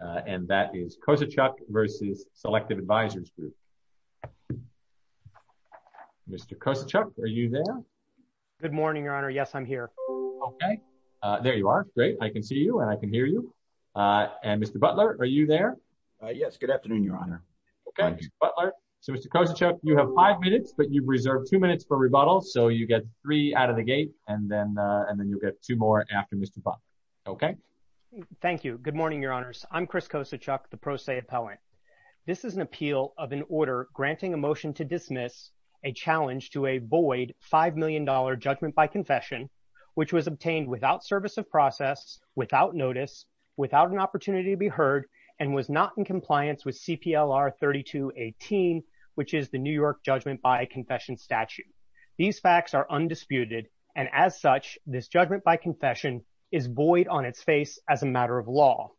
Mr. Kosachuk, are you there? Good morning, Your Honor. Yes, I'm here. Okay. There you are. Great. I can see you and I can hear you. And Mr. Butler, are you there? Yes, good afternoon, Your Honor. Okay, Mr. Butler. So, Mr. Kosachuk, you have five minutes, but you've reserved two minutes for rebuttal. So, you get three out of the gate and then you'll get two more after Mr. Butler. Okay? Thank you. Good morning, Your Honors. I'm Chris Kosachuk, the pro se appellant. This is an appeal of an order granting a motion to dismiss a challenge to a void $5 million judgment by confession, which was obtained without service of process, without notice, without an opportunity to be heard, and was not in compliance with CPLR 3218, which is the New York judgment by confession statute. These facts are undisputed, and as such, this judgment by confession is void on its face as a matter of law.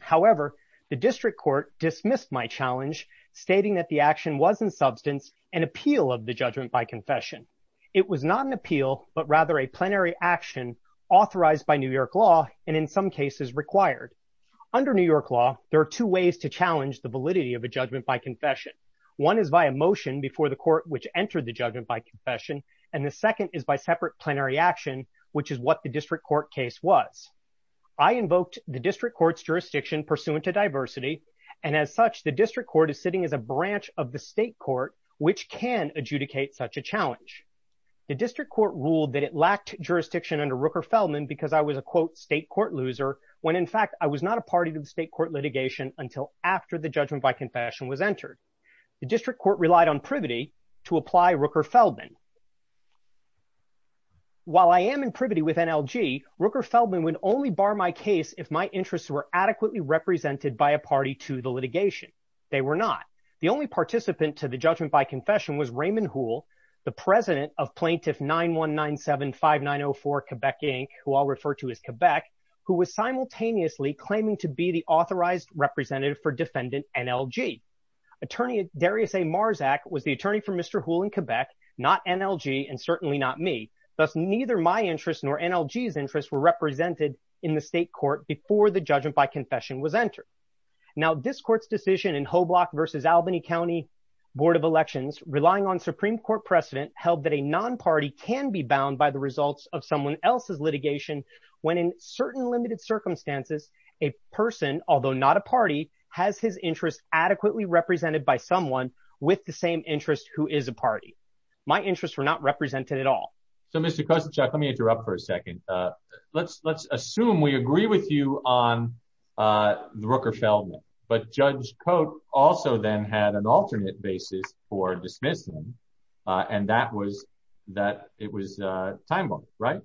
However, the district court dismissed my challenge, stating that the action was in substance an appeal of the judgment by confession. It was not an appeal, but rather a plenary action authorized by New York law and in some cases required. Under New York law, there are two ways to challenge the validity of a judgment by confession. One is by a motion before the court which entered the judgment by confession, and the second is by separate plenary action, which is what the district court case was. I invoked the district court's jurisdiction pursuant to diversity, and as such, the district court is sitting as a branch of the state court, which can adjudicate such a challenge. The district court ruled that it lacked jurisdiction under Rooker-Feldman because I was a quote state court loser, when in fact I was not a party to the state court litigation until after the judgment by confession was entered. The district court relied on privity to apply Rooker-Feldman. While I am in privity with NLG, Rooker-Feldman would only bar my case if my interests were adequately represented by a party to the litigation. They were not. The only participant to the judgment by confession was Raymond Houle, the president of plaintiff 91975904 Quebec Inc., who I'll refer to as Quebec, who was simultaneously claiming to be the authorized representative for defendant NLG. Attorney Darius A. Marzak was the attorney for Mr. Houle in Quebec, not NLG, and certainly not me. Thus, neither my interests nor NLG's interests were represented in the state court before the judgment by confession was entered. Now, this court's decision in Hoblock versus Albany County Board of Elections, relying on Supreme Court precedent, held that a non-party can be bound by the results of someone else's litigation when in certain limited circumstances, a person, although not a party, has his interests adequately represented by someone with the same interests who is a party. My interests were not represented at all. So, Mr. Kosenchuk, let me interrupt for a second. Let's assume we agree with you on the Rooker-Feldman, but Judge Cote also then had an alternate basis for dismissing, and that was that it was a time bomb, right?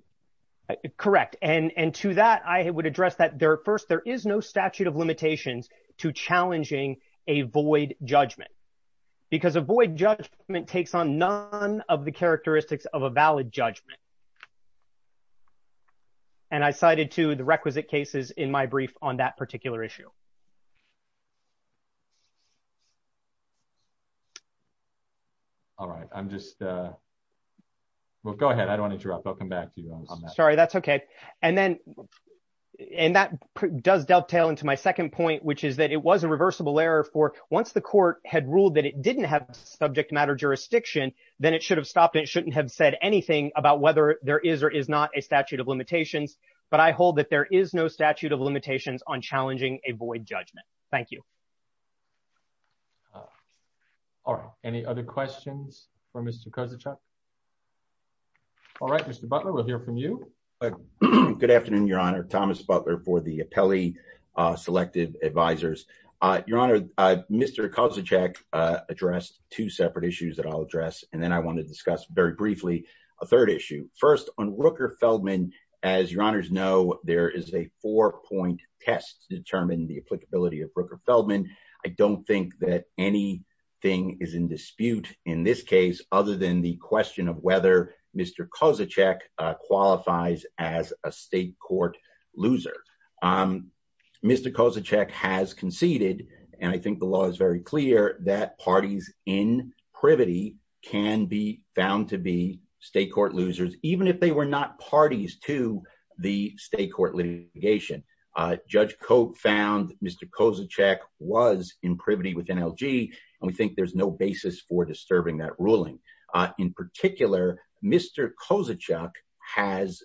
Correct. And to that, I would address that there, first, there is no statute of limitations to challenging a void judgment, because a void judgment takes on none of the characteristics of a valid judgment. And I cited to the requisite cases in my brief on that particular issue. All right. I'm just. Well, go ahead. I don't want to interrupt. I'll come back to you on that. Sorry, that's OK. And then and that does dovetail into my second point, which is that it was a reversible error for once the court had ruled that it didn't have subject matter jurisdiction, then it should have stopped. It shouldn't have said anything about whether there is or is not a statute of limitations. But I hold that there is no statute of limitations on challenging a void judgment. Thank you. All right. Any other questions for Mr. Kosenchuk? All right, Mr. Butler, we'll hear from you. Good afternoon, Your Honor. Thomas Butler for the appellee selective advisers, Your Honor. Mr. Kosenchuk addressed two separate issues that I'll address, and then I want to discuss very briefly a third issue. First, on Rooker Feldman, as your honors know, there is a four point test to determine the applicability of Rooker Feldman. I don't think that any thing is in dispute in this case other than the question of whether Mr. Kosenchuk qualifies as a state court loser. Mr. Kosenchuk has conceded, and I think the law is very clear, that parties in privity can be found to be state court losers, even if they were not parties to the state court litigation. Judge Cope found Mr. Kosenchuk was in privity with NLG, and we think there's no basis for disturbing that ruling. In particular, Mr. Kosenchuk has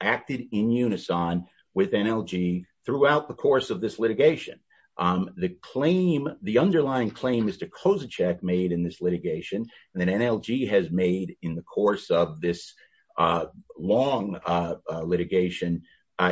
acted in unison with NLG throughout the course of this litigation. The claim, the underlying claim Mr. Kosenchuk made in this litigation and NLG has made in the course of this long litigation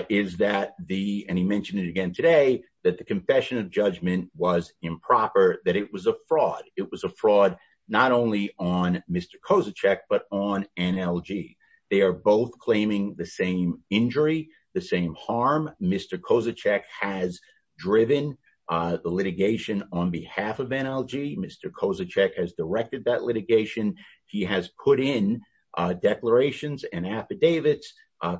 is that the, and he mentioned it again today, that the confession of judgment was improper, that it was a fraud. It was a fraud not only on Mr. Kosenchuk, but on NLG. They are both claiming the same injury, the same harm. Mr. Kosenchuk has driven the litigation on behalf of NLG. Mr. Kosenchuk has directed that litigation. He has put in declarations and affidavits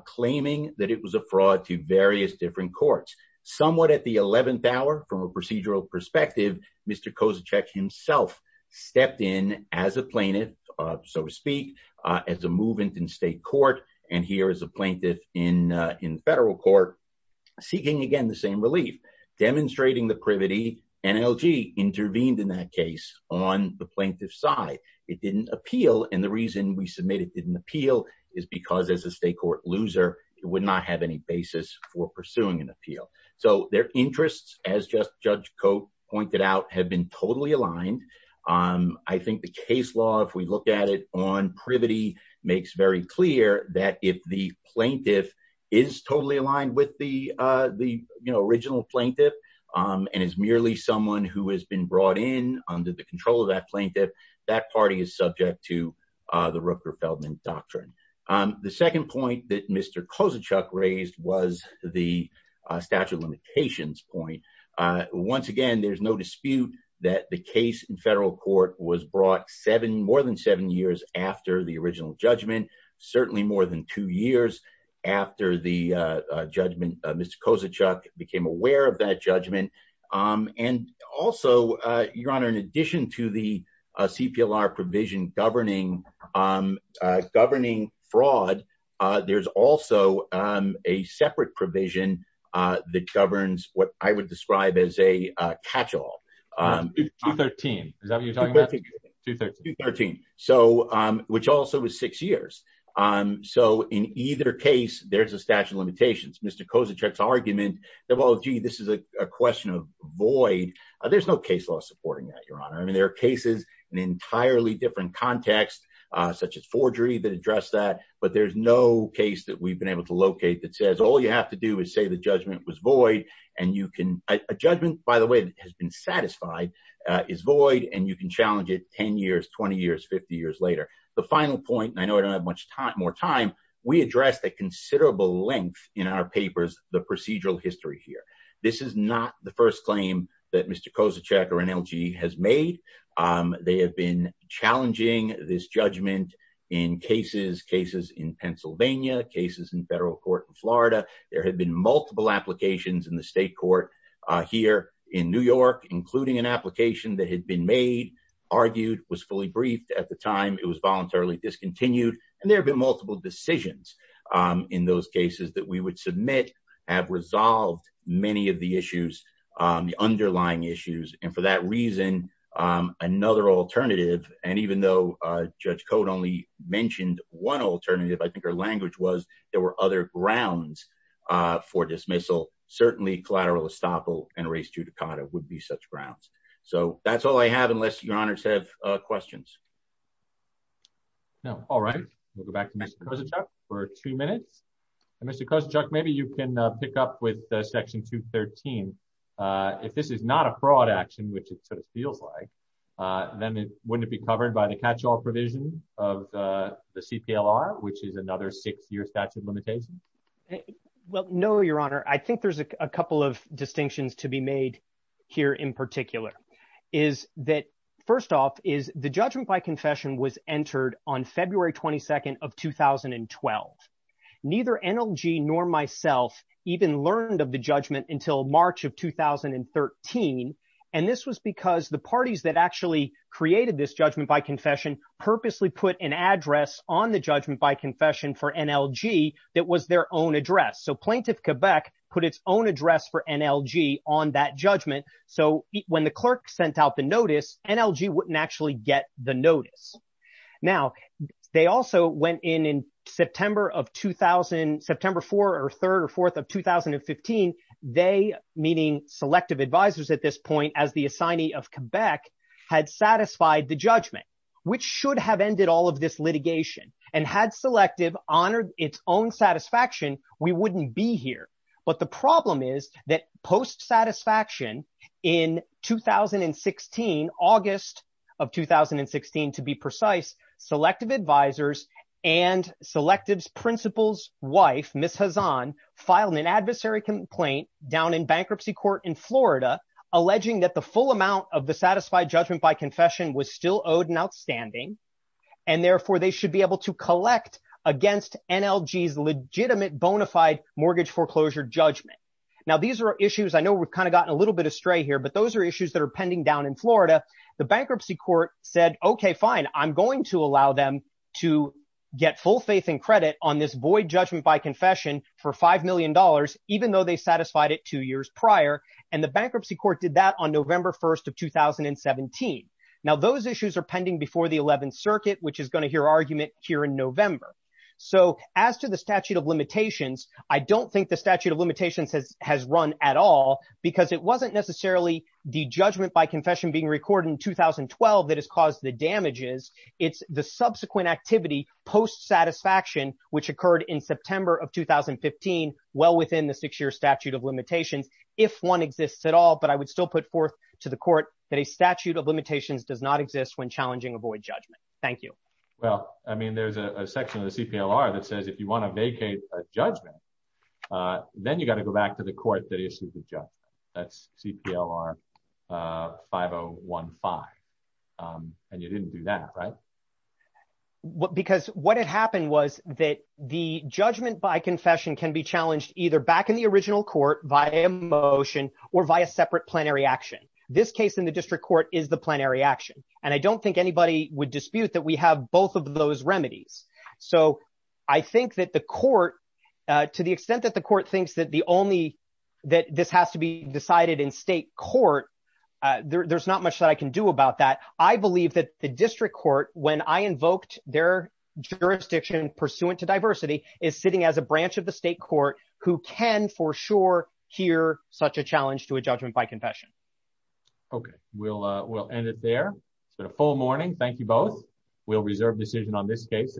claiming that it was a fraud to various different courts. Somewhat at the 11th hour, from a procedural perspective, Mr. Kosenchuk himself stepped in as a plaintiff, so to speak, as a movant in state court, and here as a plaintiff in federal court, seeking again the same relief. Demonstrating the privity, NLG intervened in that case on the plaintiff's side. It didn't appeal, and the reason we submit it didn't appeal is because as a state court loser, it would not have any basis for pursuing an appeal. So their interests, as just Judge Cote pointed out, have been totally aligned. I think the case law, if we look at it on privity, makes very clear that if the plaintiff is totally aligned with the original plaintiff, and is merely someone who has been brought in under the control of that plaintiff, that party is subject to the Rooker-Feldman doctrine. The second point that Mr. Kosenchuk raised was the statute of limitations point. Once again, there's no dispute that the case in federal court was brought more than seven years after the original judgment. Certainly more than two years after the judgment, Mr. Kosenchuk became aware of that judgment. And also, Your Honor, in addition to the CPLR provision governing fraud, there's also a separate provision that governs what I would describe as a catch-all. 213. Is that what you're talking about? 213. 213, which also was six years. So in either case, there's a statute of limitations. Mr. Kosenchuk's argument that, well, gee, this is a question of void. There's no case law supporting that, Your Honor. I mean, there are cases in an entirely different context, such as forgery, that address that. But there's no case that we've been able to locate that says all you have to do is say the judgment was void. And a judgment, by the way, that has been satisfied is void. And you can challenge it 10 years, 20 years, 50 years later. The final point, and I know I don't have much more time, we addressed at considerable length in our papers the procedural history here. This is not the first claim that Mr. Kosenchuk or NLG has made. They have been challenging this judgment in cases, cases in Pennsylvania, cases in federal court in Florida. There have been multiple applications in the state court here in New York, including an application that had been made, argued, was fully briefed. At the time, it was voluntarily discontinued. And there have been multiple decisions in those cases that we would submit have resolved many of the issues, the underlying issues. And for that reason, another alternative. And even though Judge Cote only mentioned one alternative, I think her language was there were other grounds for dismissal. Certainly collateral estoppel and res judicata would be such grounds. So that's all I have, unless your honors have questions. All right. We'll go back to Mr. Kosenchuk for two minutes. Mr. Kosenchuk, maybe you can pick up with Section 213. If this is not a fraud action, which it sort of feels like, then wouldn't it be covered by the catch all provision of the CPLR, which is another six year statute limitation? Well, no, your honor, I think there's a couple of distinctions to be made here in particular is that first off is the judgment by confession was entered on February 22nd of 2012. Neither NLG nor myself even learned of the judgment until March of 2013. And this was because the parties that actually created this judgment by confession purposely put an address on the judgment by confession for NLG that was their own address. So Plaintiff Quebec put its own address for NLG on that judgment. So when the clerk sent out the notice, NLG wouldn't actually get the notice. Now, they also went in in September of 2000, September 4th or 3rd or 4th of 2015. They, meaning Selective Advisors at this point as the assignee of Quebec, had satisfied the judgment, which should have ended all of this litigation and had Selective honored its own satisfaction. We wouldn't be here. But the problem is that post-satisfaction in 2016, August of 2016 to be precise, Selective Advisors and Selective's principal's wife, Ms. Hazan, filed an adversary complaint down in bankruptcy court in Florida, alleging that the full amount of the satisfied judgment by confession was still owed and outstanding. And therefore, they should be able to collect against NLG's legitimate bona fide mortgage foreclosure judgment. Now, these are issues I know we've kind of gotten a little bit astray here, but those are issues that are pending down in Florida. The bankruptcy court said, OK, fine, I'm going to allow them to get full faith and credit on this void judgment by confession for $5 million, even though they satisfied it two years prior. And the bankruptcy court did that on November 1st of 2017. Now, those issues are pending before the 11th Circuit, which is going to hear argument here in November. So as to the statute of limitations, I don't think the statute of limitations has run at all because it wasn't necessarily the judgment by confession being recorded in 2012 that has caused the damages. It's the subsequent activity post-satisfaction, which occurred in September of 2015, well within the six-year statute of limitations, if one exists at all. But I would still put forth to the court that a statute of limitations does not exist when challenging a void judgment. Thank you. Well, I mean, there's a section of the CPLR that says if you want to vacate a judgment, then you've got to go back to the court that issued the judgment. That's CPLR 5015. And you didn't do that, right? Because what had happened was that the judgment by confession can be challenged either back in the original court via motion or via separate plenary action. This case in the district court is the plenary action. And I don't think anybody would dispute that we have both of those remedies. So I think that the court, to the extent that the court thinks that the only that this has to be decided in state court, there's not much that I can do about that. I believe that the district court, when I invoked their jurisdiction pursuant to diversity, is sitting as a branch of the state court who can for sure hear such a challenge to a judgment by confession. OK, we'll end it there. It's been a full morning. Thank you both. We'll reserve decision on this case.